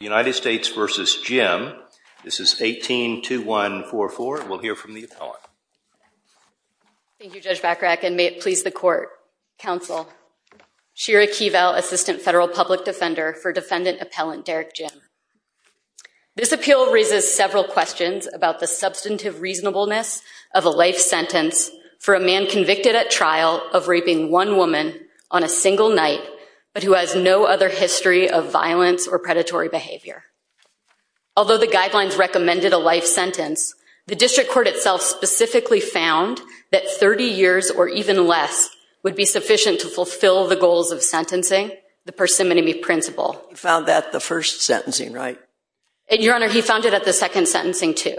United States v. Jim, this is 18-21-44, and we'll hear from the appellant. Thank you, Judge Bachrach, and may it please the Court, Counsel, Shira Keevel, Assistant Federal Public Defender for Defendant Appellant Derek Jim. This appeal raises several questions about the substantive reasonableness of a life sentence for a man convicted at trial of raping one woman on a single night, but who has no other history of violence or predatory behavior. Although the guidelines recommended a life sentence, the District Court itself specifically found that 30 years or even less would be sufficient to fulfill the goals of sentencing, the persimmony principle. He found that the first sentencing, right? Your Honor, he found it at the second sentencing, too.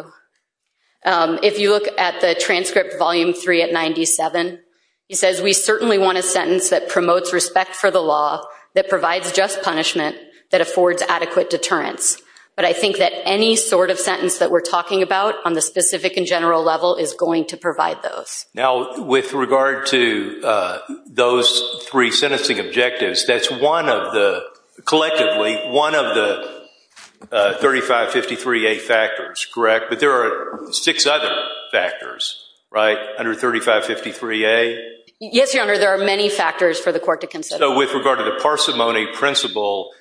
If you look at the transcript, Volume 3 at 97, he says, we certainly want a sentence that promotes respect for the law, that provides just punishment, that affords adequate deterrence. But I think that any sort of sentence that we're talking about on the specific and general level is going to provide those. Now with regard to those three sentencing objectives, that's one of the, collectively, one of the 3553A factors, correct? But there are six other factors, right, under 3553A? Yes, Your Honor, there are many factors for the court to consider. With regard to the persimmony principle,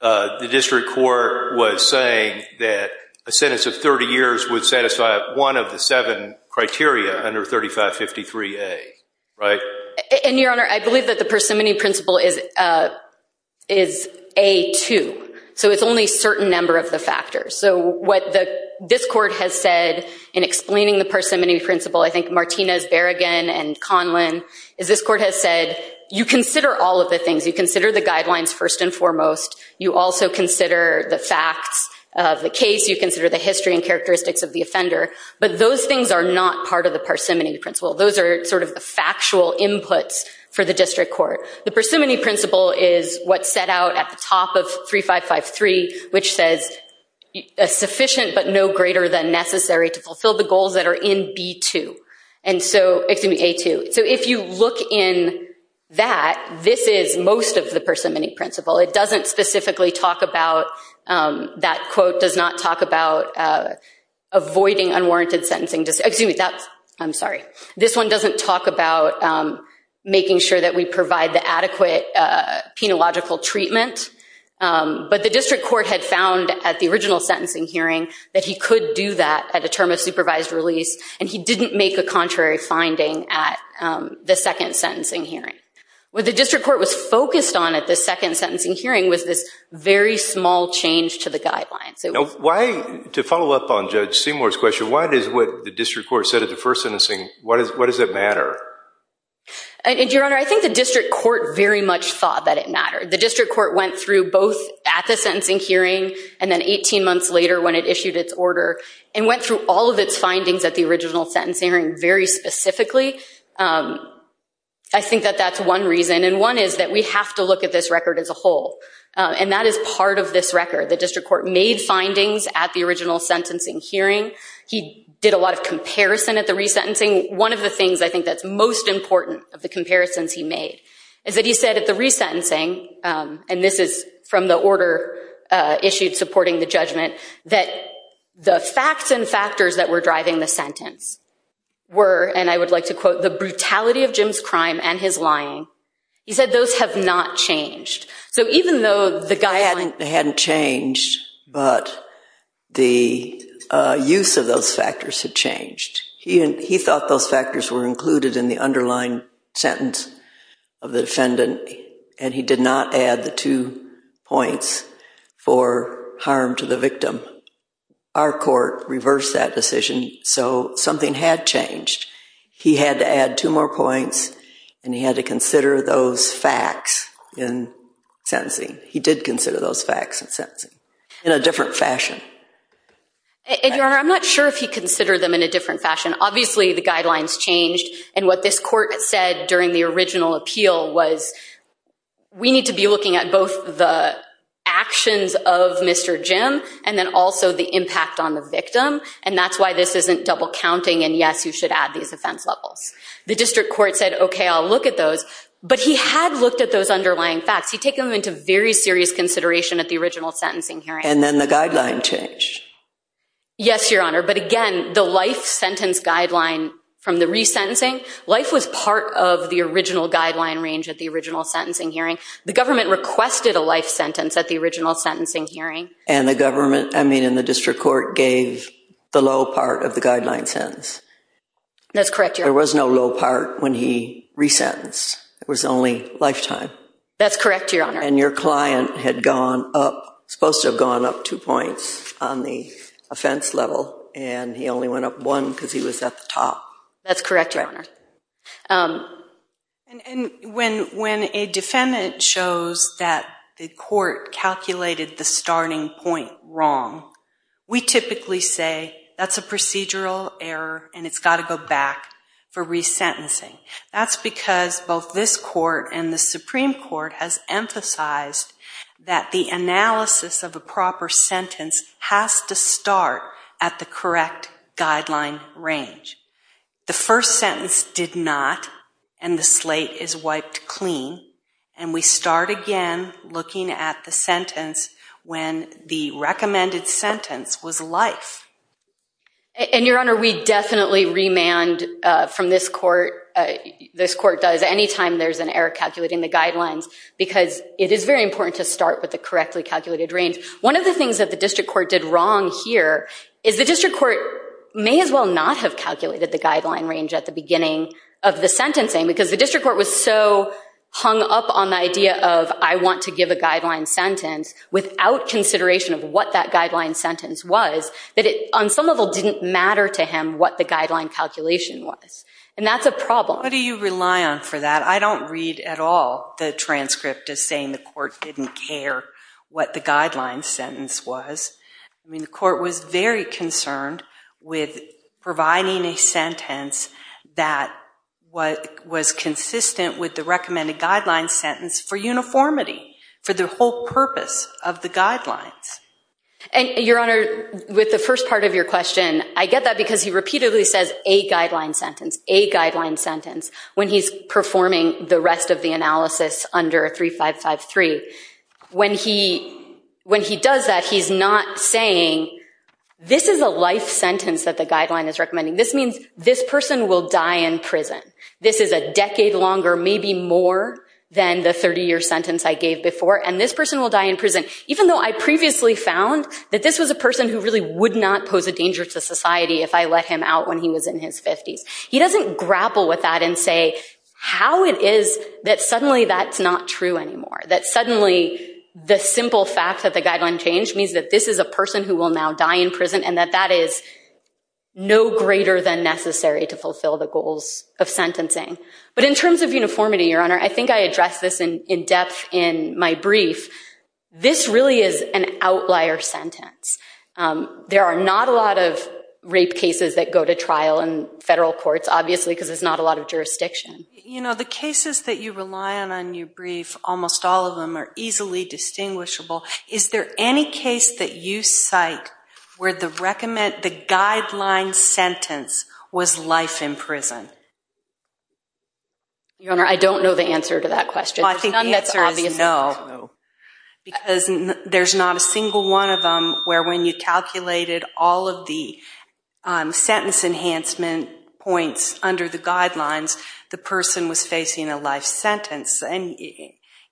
the District Court was saying that a sentence of 30 years would satisfy one of the seven criteria under 3553A, right? And Your Honor, I believe that the persimmony principle is A2, so it's only a certain number of the factors. So what this court has said in explaining the persimmony principle, I think Martinez, Berrigan, and Conlin, is this court has said, you consider all of the things. You consider the guidelines first and foremost. You also consider the facts of the case. You consider the history and characteristics of the offender. But those things are not part of the persimmony principle. Those are sort of the factual inputs for the District Court. The persimmony principle is what's set out at the top of 3553, which says, sufficient but no greater than necessary to fulfill the goals that are in B2. And so, excuse me, A2. So if you look in that, this is most of the persimmony principle. It doesn't specifically talk about, that quote does not talk about avoiding unwarranted sentencing. Excuse me, that's, I'm sorry. This one doesn't talk about making sure that we provide the adequate penological treatment. But the District Court had found at the original sentencing hearing that he could do that at a term of supervised release. And he didn't make a contrary finding at the second sentencing hearing. What the District Court was focused on at the second sentencing hearing was this very small change to the guidelines. Now, why, to follow up on Judge Seymour's question, why does what the District Court said at the first sentencing, why does it matter? Your Honor, I think the District Court very much thought that it mattered. The District Court went through both at the sentencing hearing and then 18 months later when it issued its order and went through all of its findings at the original sentencing hearing very specifically. I think that that's one reason. And one is that we have to look at this record as a whole. And that is part of this record. The District Court made findings at the original sentencing hearing. He did a lot of comparison at the resentencing. One of the things I think that's most important of the comparisons he made is that he said at the resentencing, and this is from the order issued supporting the judgment, that the facts and factors that were driving the sentence were, and I would like to quote, the brutality of Jim's crime and his lying. He said those have not changed. So even though the guidelines hadn't changed, but the use of those factors had changed. He thought those factors were included in the underlying sentence of the defendant, and he did not add the two points for harm to the victim. Our court reversed that decision, so something had changed. He had to add two more points, and he had to consider those facts in sentencing. He did consider those facts in sentencing in a different fashion. And, Your Honor, I'm not sure if he considered them in a different fashion. Obviously, the guidelines changed, and what this court said during the original appeal was we need to be looking at both the actions of Mr. Jim and then also the impact on the victim, and that's why this isn't double counting, and yes, you should add these offense levels. The District Court said, okay, I'll look at those, but he had looked at those underlying facts. He'd taken them into very serious consideration at the original sentencing hearing. And then the guideline changed. Yes, Your Honor, but again, the life sentence guideline from the resentencing, life was part of the original guideline range at the original sentencing hearing. The government requested a life sentence at the original sentencing hearing. And the government, I mean, and the District Court gave the low part of the guideline sentence. That's correct, Your Honor. There was no low part when he resentenced. It was only lifetime. That's correct, Your Honor. And your client had gone up, supposed to have gone up two points on the offense level, and he only went up one because he was at the top. That's correct, Your Honor. And when a defendant shows that the court calculated the starting point wrong, we typically say that's a procedural error and it's got to go back for resentencing. That's because both this court and the Supreme Court has emphasized that the analysis of a proper sentence has to start at the correct guideline range. The first sentence did not, and the slate is wiped clean. And we start again looking at the sentence when the recommended sentence was life. And, Your Honor, we definitely remand from this court, this court does, anytime there's an error calculating the guidelines because it is very important to start with the correctly calculated range. One of the things that the District Court did wrong here is the District Court may as well not have calculated the guideline range at the beginning of the sentencing because the District Court was so hung up on the idea of I want to give a guideline sentence without consideration of what that guideline sentence was that it on some level didn't matter to him what the guideline calculation was. And that's a problem. What do you rely on for that? I don't read at all the transcript as saying the court didn't care what the guideline sentence was. I mean, the court was very concerned with providing a sentence that was consistent with the recommended guideline sentence for uniformity, for the whole purpose of the guidelines. And Your Honor, with the first part of your question, I get that because he repeatedly says a guideline sentence, a guideline sentence when he's performing the rest of the analysis under 3553. When he does that, he's not saying this is a life sentence that the guideline is recommending. This means this person will die in prison. This is a decade longer, maybe more than the 30-year sentence I gave before. And this person will die in prison, even though I previously found that this was a person who really would not pose a danger to society if I let him out when he was in his 50s. He doesn't grapple with that and say how it is that suddenly that's not true anymore, that suddenly the simple fact that the guideline changed means that this is a person who will now die in prison, and that that is no greater than necessary to fulfill the goals of sentencing. But in terms of uniformity, Your Honor, I think I addressed this in depth in my brief. This really is an outlier sentence. There are not a lot of rape cases that go to trial in federal courts, obviously, because there's not a lot of jurisdiction. You know, the cases that you rely on in your brief, almost all of them are easily distinguishable. Is there any case that you cite where the guideline sentence was life in prison? Your Honor, I don't know the answer to that question. Well, I think the answer is no, because there's not a single one of them where when you calculated all of the sentence enhancement points under the guidelines, the person was facing a life sentence.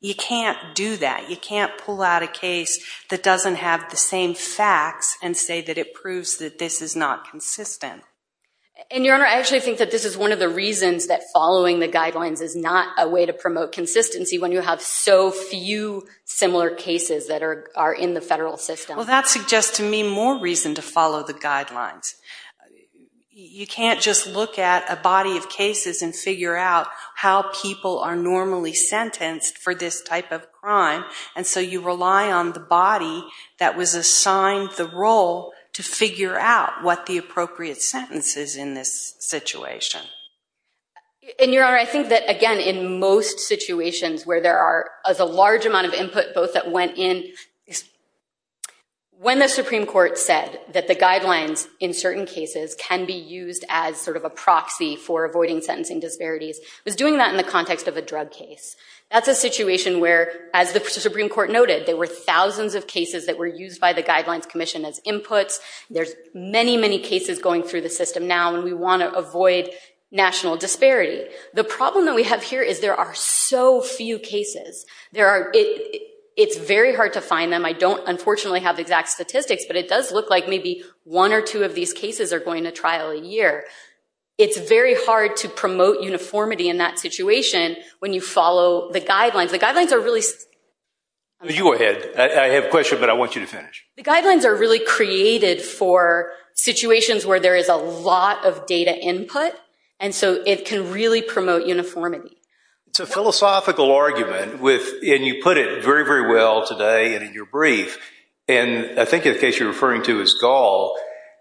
You can't do that. You can't pull out a case that doesn't have the same facts and say that it proves that this is not consistent. And Your Honor, I actually think that this is one of the reasons that following the guidelines is not a way to promote consistency when you have so few similar cases that are in the federal system. Well, that suggests to me more reason to follow the guidelines. You can't just look at a body of cases and figure out how people are normally sentenced for this type of crime. And so you rely on the body that was assigned the role to figure out what the appropriate sentence is in this situation. And Your Honor, I think that, again, in most situations where there is a large amount of input both that went in, when the Supreme Court said that the guidelines in certain cases can be used as sort of a proxy for avoiding sentencing disparities, was doing that in the context of a drug case. That's a situation where, as the Supreme Court noted, there were thousands of cases that were used by the Guidelines Commission as inputs. There's many, many cases going through the system now, and we want to avoid national disparity. The problem that we have here is there are so few cases. It's very hard to find them. I don't, unfortunately, have exact statistics, but it does look like maybe one or two of these cases are going to trial a year. It's very hard to promote uniformity in that situation when you follow the guidelines. The guidelines are really... You go ahead. I have a question, but I want you to finish. The guidelines are really created for situations where there is a lot of data input, and so it can really promote uniformity. It's a philosophical argument with, and you put it very, very well today and in your brief, and I think in the case you're referring to is Gall,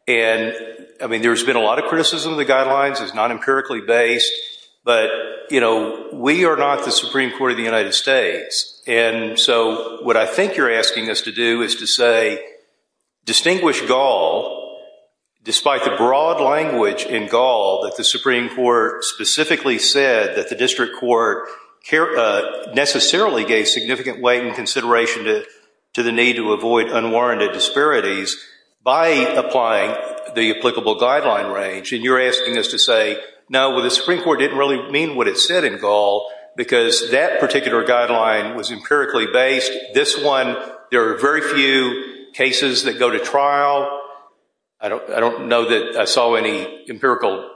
and, I mean, there's been a lot of criticism of the guidelines. It's not empirically based, but, you know, we are not the Supreme Court of the United States, and so what I think you're asking us to do is to say, distinguish Gall, despite the broad language in Gall that the Supreme Court specifically said that the district court necessarily gave significant weight and consideration to the need to avoid unwarranted disparities by applying the applicable guideline range, and you're asking us to say, no, the Supreme Court didn't really mean what it said in Gall because that particular guideline was empirically based. This one, there are very few cases that go to trial. I don't know that I saw any empirical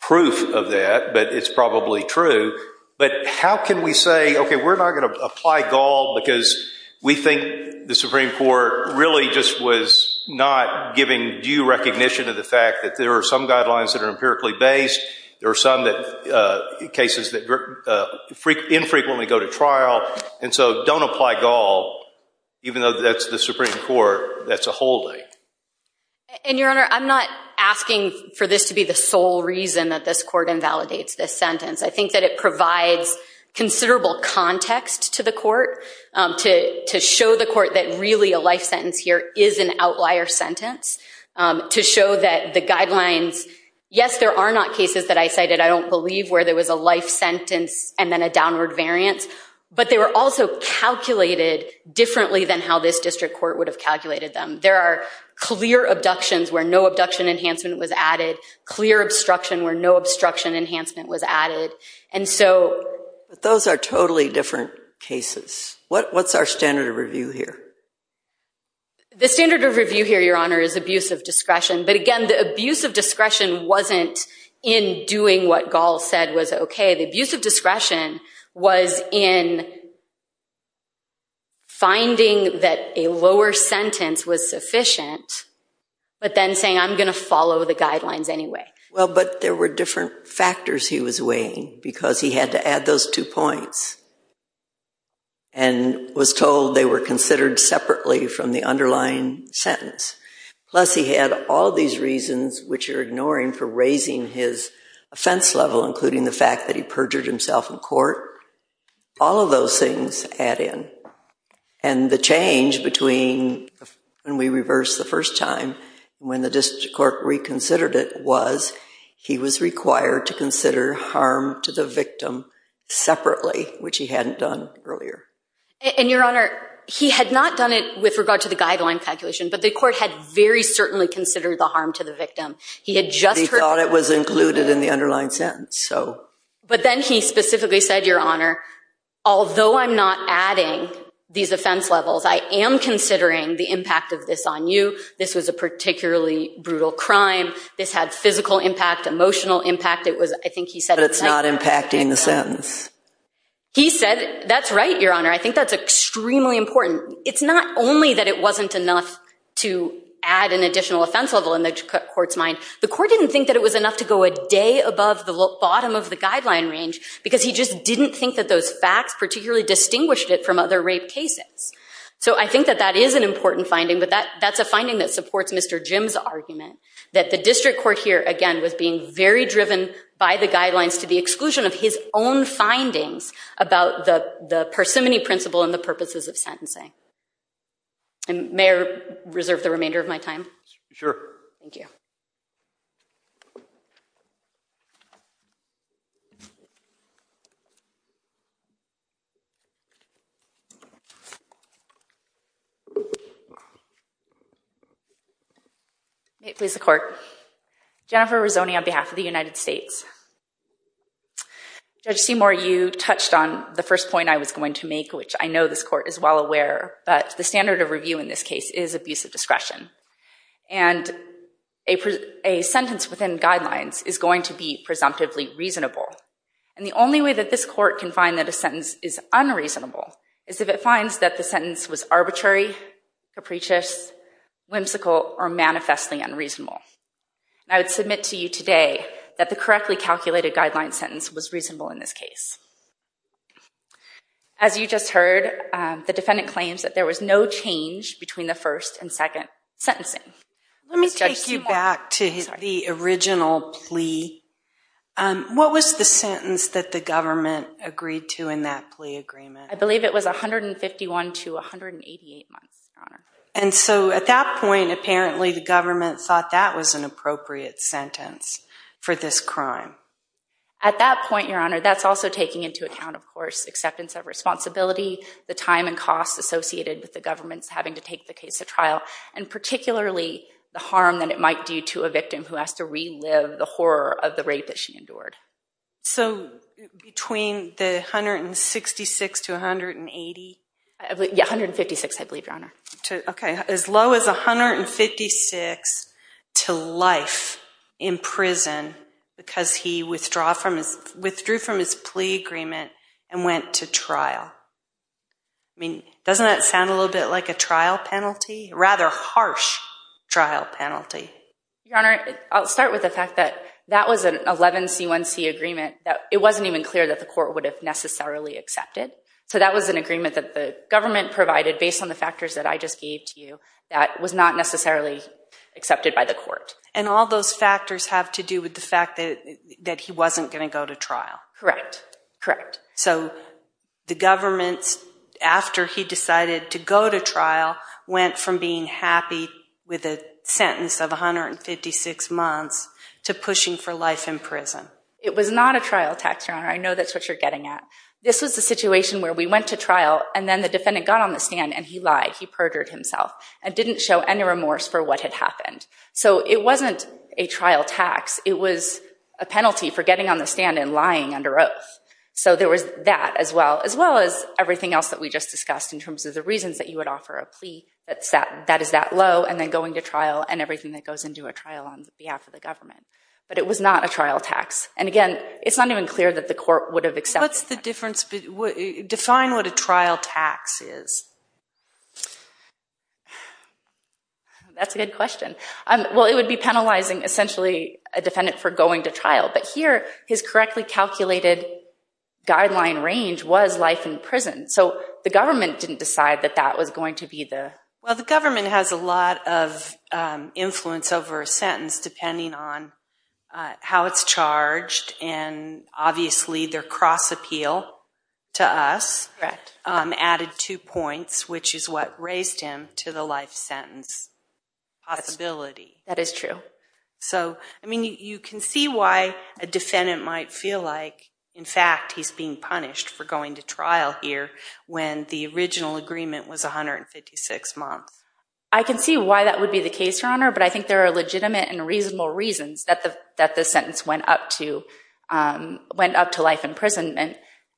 proof of that, but it's probably true, but how can we say, okay, we're not going to apply Gall because we think the Supreme Court really just was not giving due recognition to the fact that there are some guidelines that are empirically based. There are some cases that infrequently go to trial, and so don't apply Gall, even though that's the Supreme Court. That's a whole thing. And, Your Honor, I'm not asking for this to be the sole reason that this Court invalidates this sentence. I think that it provides considerable context to the Court to show the Court that really a life sentence here is an outlier sentence, to show that the guidelines, yes, there are not cases that I cited, I don't believe, where there was a life sentence and then a downward variance, but they were also calculated differently than how this district court would have calculated them. There are clear abductions where no abduction enhancement was added, clear obstruction where no obstruction enhancement was added. And so... But those are totally different cases. What's our standard of review here? The standard of review here, Your Honor, is abuse of discretion, but again, the abuse of discretion wasn't in doing what Gall said was okay. The abuse of discretion was in finding that a lower sentence was sufficient, but then saying I'm going to follow the guidelines anyway. Well, but there were different factors he was weighing, because he had to add those two points and was told they were considered separately from the underlying sentence. Plus, he had all these reasons, which you're ignoring, for raising his offense level, including the fact that he perjured himself in court. All of those things add in. And the change between when we reversed the first time and when the district court reconsidered it was he was required to consider harm to the victim separately, which he hadn't done earlier. And, Your Honor, he had not done it with regard to the guideline calculation, but the court had very certainly considered the harm to the victim. He had just heard... He thought it was included in the underlying sentence, so... But then he specifically said, Your Honor, although I'm not adding these offense levels, I am considering the impact of this on you. This was a particularly brutal crime. This had physical impact, emotional impact. It was, I think he said... But it's not impacting the sentence. He said... That's right, Your Honor. I think that's extremely important. It's not only that it wasn't enough to add an additional offense level in the court's mind. The court didn't think that it was enough to go a day above the bottom of the guideline range, because he just didn't think that those facts particularly distinguished it from other rape cases. So I think that that is an important finding, but that's a finding that supports Mr. Jim's point. The district court here, again, was being very driven by the guidelines to the exclusion of his own findings about the parsimony principle and the purposes of sentencing. And may I reserve the remainder of my time? Sure. Thank you. May it please the court. Jennifer Rizzoni on behalf of the United States. Judge Seymour, you touched on the first point I was going to make, which I know this court is well aware. But the standard of review in this case is abuse of discretion. And a sentence within guidelines is going to be presumptively reasonable. And the only way that this court can find that a sentence is unreasonable is if it finds that the sentence was arbitrary, capricious, whimsical, or manifestly unreasonable. I would submit to you today that the correctly calculated guideline sentence was reasonable in this case. As you just heard, the defendant claims that there was no change between the first and second sentencing. Let me take you back to the original plea. What was the sentence that the government agreed to in that plea agreement? I believe it was 151 to 188 months, Your Honor. And so at that point, apparently, the government thought that was an appropriate sentence for this crime. At that point, Your Honor, that's also taking into account, of course, acceptance of responsibility, the time and costs associated with the government's having to take the case to trial, and particularly the harm that it might do to a victim who has to relive the horror of the rape that she endured. So between the 166 to 180? Yeah, 156, I believe, Your Honor. As low as 156 to life in prison because he withdrew from his plea agreement and went to trial. I mean, doesn't that sound a little bit like a trial penalty, a rather harsh trial penalty? Your Honor, I'll start with the fact that that was an 11C1C agreement that it wasn't even clear that the court would have necessarily accepted. So that was an agreement that the government provided based on the factors that I just gave to you that was not necessarily accepted by the court. And all those factors have to do with the fact that he wasn't going to go to trial? Correct, correct. So the government, after he decided to go to trial, went from being happy with a sentence of 156 months to pushing for life in prison? It was not a trial tax, Your Honor. I know that's what you're getting at. This was the situation where we went to trial, and then the defendant got on the stand, and he lied. He perjured himself and didn't show any remorse for what had happened. So it wasn't a trial tax. It was a penalty for getting on the stand and lying under oath. So there was that as well, as well as everything else that we just discussed in terms of the reasons that you would offer a plea that is that low and then going to trial and everything that goes into a trial on behalf of the government. But it was not a trial tax. And again, it's not even clear that the court would have accepted that. Define what a trial tax is. That's a good question. Well, it would be penalizing, essentially, a defendant for going to trial. But here, his correctly calculated guideline range was life in prison. So the government didn't decide that that was going to be the… Well, the government has a lot of influence over a sentence depending on how it's charged. And obviously, their cross appeal to us added two points, which is what raised him to the life sentence possibility. That is true. So, I mean, you can see why a defendant might feel like, in fact, he's being punished for going to trial here when the original agreement was 156 months. But I think there are legitimate and reasonable reasons that the sentence went up to life in prison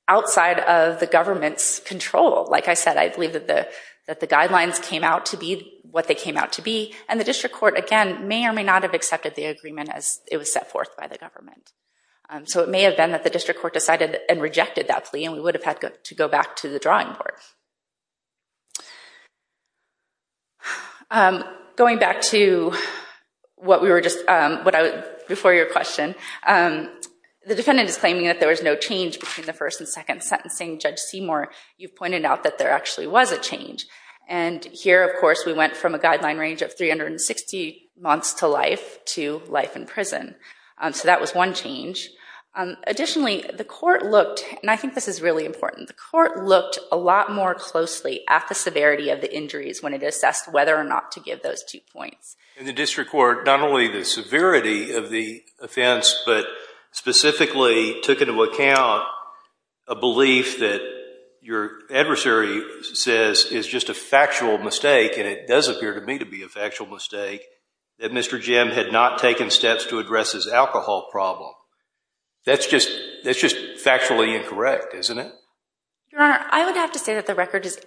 outside of the government's control. Like I said, I believe that the guidelines came out to be what they came out to be. And the district court, again, may or may not have accepted the agreement as it was set forth by the government. So it may have been that the district court decided and rejected that plea, and we would have had to go back to the drawing board. Going back to what we were just… Before your question, the defendant is claiming that there was no change between the first and second sentencing. Judge Seymour, you pointed out that there actually was a change. And here, of course, we went from a guideline range of 360 months to life to life in prison. So that was one change. Additionally, the court looked… And I think this is really important. The court looked a lot more closely at the severity of the injuries when it assessed whether or not to give those two points. In the district court, not only the severity of the offense, but specifically took into account a belief that your adversary says is just a factual mistake, and it does appear to me to be a factual mistake, that Mr. Jim had not taken steps to address his alcohol problem. That's just factually incorrect, isn't it? Your Honor, I would have to say that the record is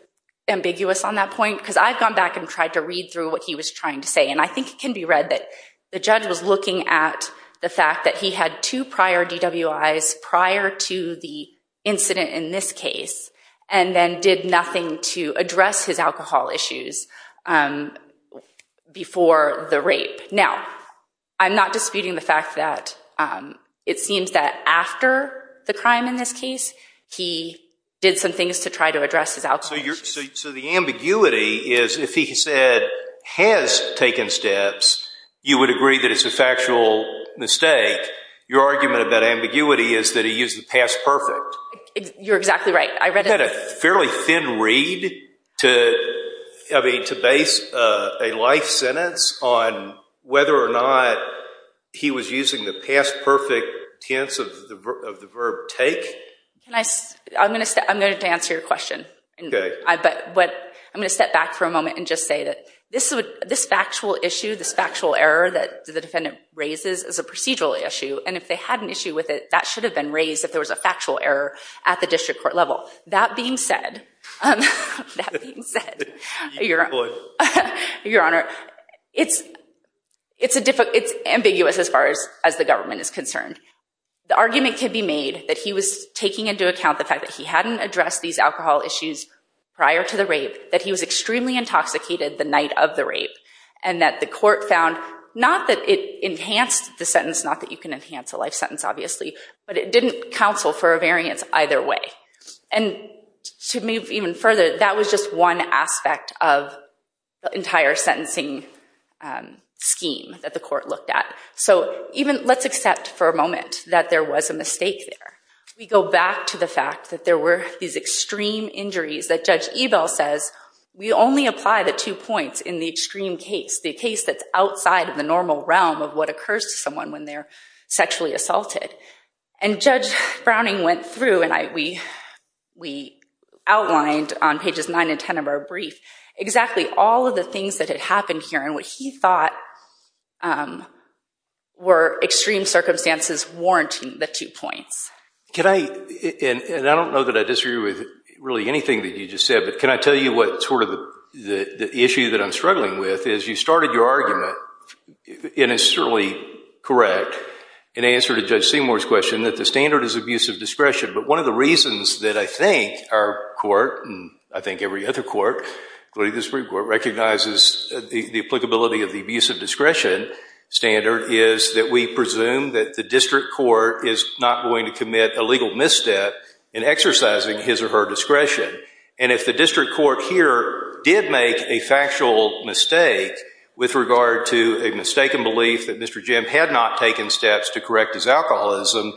ambiguous on that point, because I've gone back and tried to read through what he was trying to say, and I think it can be read that the judge was looking at the fact that he had two prior DWIs prior to the incident in this case, and then did nothing to address his alcohol issues before the rape. Now, I'm not disputing the fact that it seems that after the crime in this case, he did some things to try to address his alcohol issues. So the ambiguity is if he said has taken steps, you would agree that it's a factual mistake. Your argument about ambiguity is that he used the past perfect. You're exactly right. I read a fairly thin read to base a life sentence on whether or not he was using the past perfect tense of the verb take. I'm going to have to answer your question. I'm going to step back for a moment and just say that this factual issue, this factual error that the defendant raises is a procedural issue, and if they had an issue with it, that should have been raised if there was a factual error at the district court level. That being said, it's ambiguous as far as the government is concerned. The argument can be made that he was taking into account the fact that he hadn't addressed these alcohol issues prior to the rape, that he was extremely intoxicated the night of the rape, and that the court found not that it enhanced the sentence, not that you can But it didn't counsel for a variance either way. And to move even further, that was just one aspect of the entire sentencing scheme that the court looked at. So let's accept for a moment that there was a mistake there. We go back to the fact that there were these extreme injuries that Judge Ebell says, we only apply the two points in the extreme case, the case that's outside of the normal realm of what occurs to someone when they're sexually assaulted. And Judge Browning went through, and we outlined on pages 9 and 10 of our brief, exactly all of the things that had happened here and what he thought were extreme circumstances warranting the two points. Can I, and I don't know that I disagree with really anything that you just said, but can I tell you what sort of the issue that I'm struggling with is you started your argument And it's certainly correct in answer to Judge Seymour's question that the standard is abusive discretion. But one of the reasons that I think our court, and I think every other court, including the Supreme Court, recognizes the applicability of the abusive discretion standard is that we presume that the district court is not going to commit a legal misstep in exercising his or her discretion. And if the district court here did make a factual mistake with regard to a mistaken belief that Mr. Jim had not taken steps to correct his alcoholism,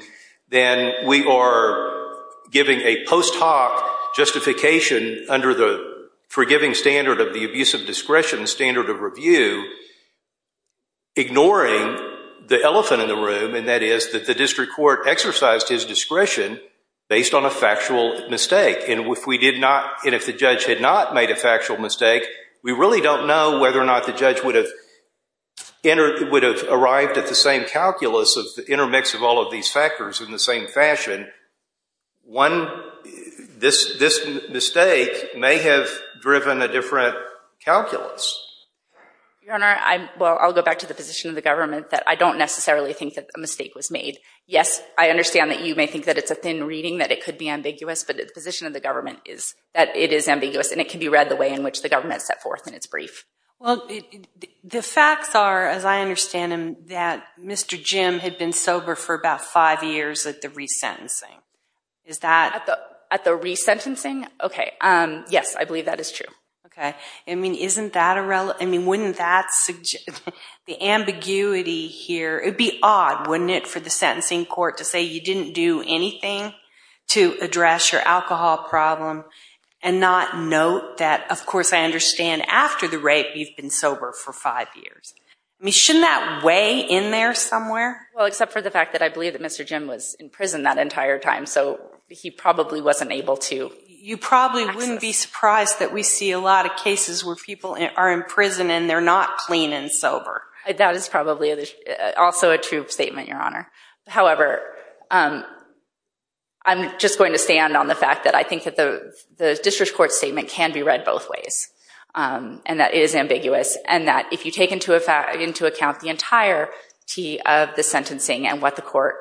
then we are giving a post hoc justification under the forgiving standard of the abusive discretion standard of review, ignoring the elephant in the room, and that is that the district court exercised his discretion based on a factual mistake. And if the judge had not made a factual mistake, we really don't know whether or not the judge would have arrived at the same calculus of the intermix of all of these factors in the same fashion. This mistake may have driven a different calculus. Your Honor, well, I'll go back to the position of the government that I don't necessarily think that a mistake was made. Yes, I understand that you may think that it's a thin reading, that it could be ambiguous, but the position of the government is that it is ambiguous, and it can be read the way in which the government set forth in its brief. Well, the facts are, as I understand them, that Mr. Jim had been sober for about five years at the resentencing. Is that... At the resentencing? Okay. Yes, I believe that is true. Okay. I mean, isn't that a... I mean, wouldn't that... The ambiguity here... It would be odd, wouldn't it, for the sentencing court to say you didn't do anything to address your alcohol problem and not note that, of course, I understand after the rape you've been sober for five years. I mean, shouldn't that weigh in there somewhere? Well, except for the fact that I believe that Mr. Jim was in prison that entire time, so he probably wasn't able to... You probably wouldn't be surprised that we see a lot of cases where people are in prison and they're not clean and sober. That is probably also a true statement, Your Honor. However, I'm just going to stand on the fact that I think that the district court statement can be read both ways, and that it is ambiguous, and that if you take into account the entirety of the sentencing and what the court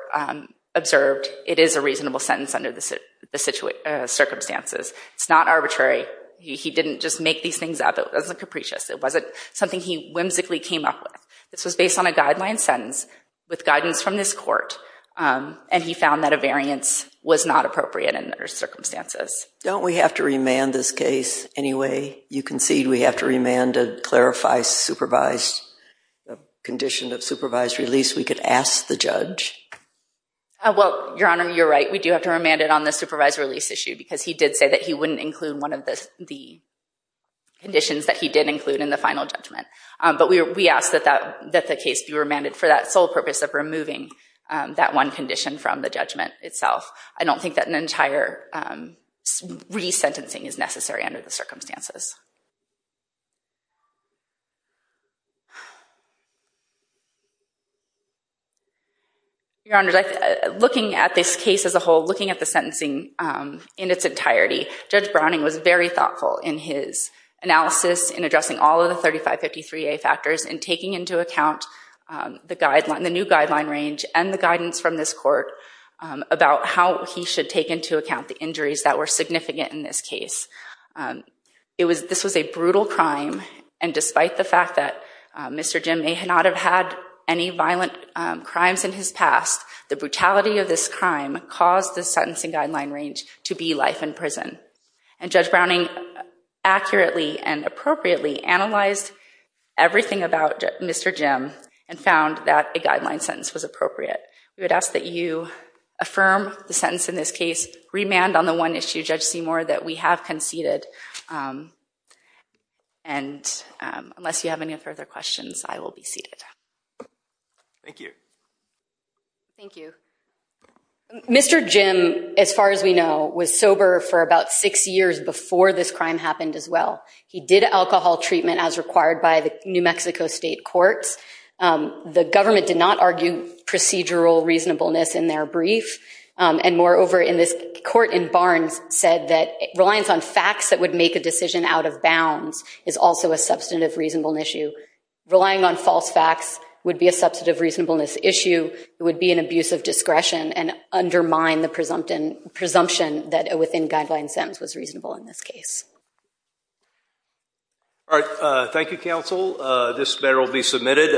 observed, it is a reasonable sentence under the circumstances. It's not arbitrary. He didn't just make these things up. It wasn't capricious. It wasn't something he whimsically came up with. This was based on a guideline sentence with guidance from this court, and he found that a variance was not appropriate under the circumstances. Don't we have to remand this case anyway? You concede we have to remand to clarify the condition of supervised release. We could ask the judge. Well, Your Honor, you're right. We do have to remand it on the supervised release issue because he did say that he wouldn't include one of the conditions that he did include in the final judgment. But we ask that the case be remanded for that sole purpose of removing that one condition from the judgment itself. I don't think that an entire resentencing is necessary under the circumstances. Your Honor, looking at this case as a whole, looking at the sentencing in its entirety, Judge Browning was very thoughtful in his analysis in addressing all of the 3553A factors and taking into account the new guideline range and the guidance from this court about how he should take into account the injuries that were significant in this case. This was a brutal crime, and despite the fact that Mr. Jim may not have had any violent crimes in his past, the brutality of this crime caused the sentencing guideline range to be life in prison. And Judge Browning accurately and appropriately analyzed everything about Mr. Jim and found that a guideline sentence was appropriate. We would ask that you affirm the sentence in this case, remand on the one issue, Judge Seymour, that we have conceded. And unless you have any further questions, I will be seated. Thank you. Thank you. Mr. Jim, as far as we know, was sober for about six years before this crime happened as well. He did alcohol treatment as required by the New Mexico state courts. The government did not argue procedural reasonableness in their brief, and moreover, in this court in Barnes said that reliance on facts that would make a decision out of bounds is also a substantive reasonableness issue. Relying on false facts would be a substantive reasonableness issue. It would be an abuse of discretion and undermine the presumption that a within-guideline sentence was reasonable in this case. All right. Thank you, counsel. This matter will be submitted.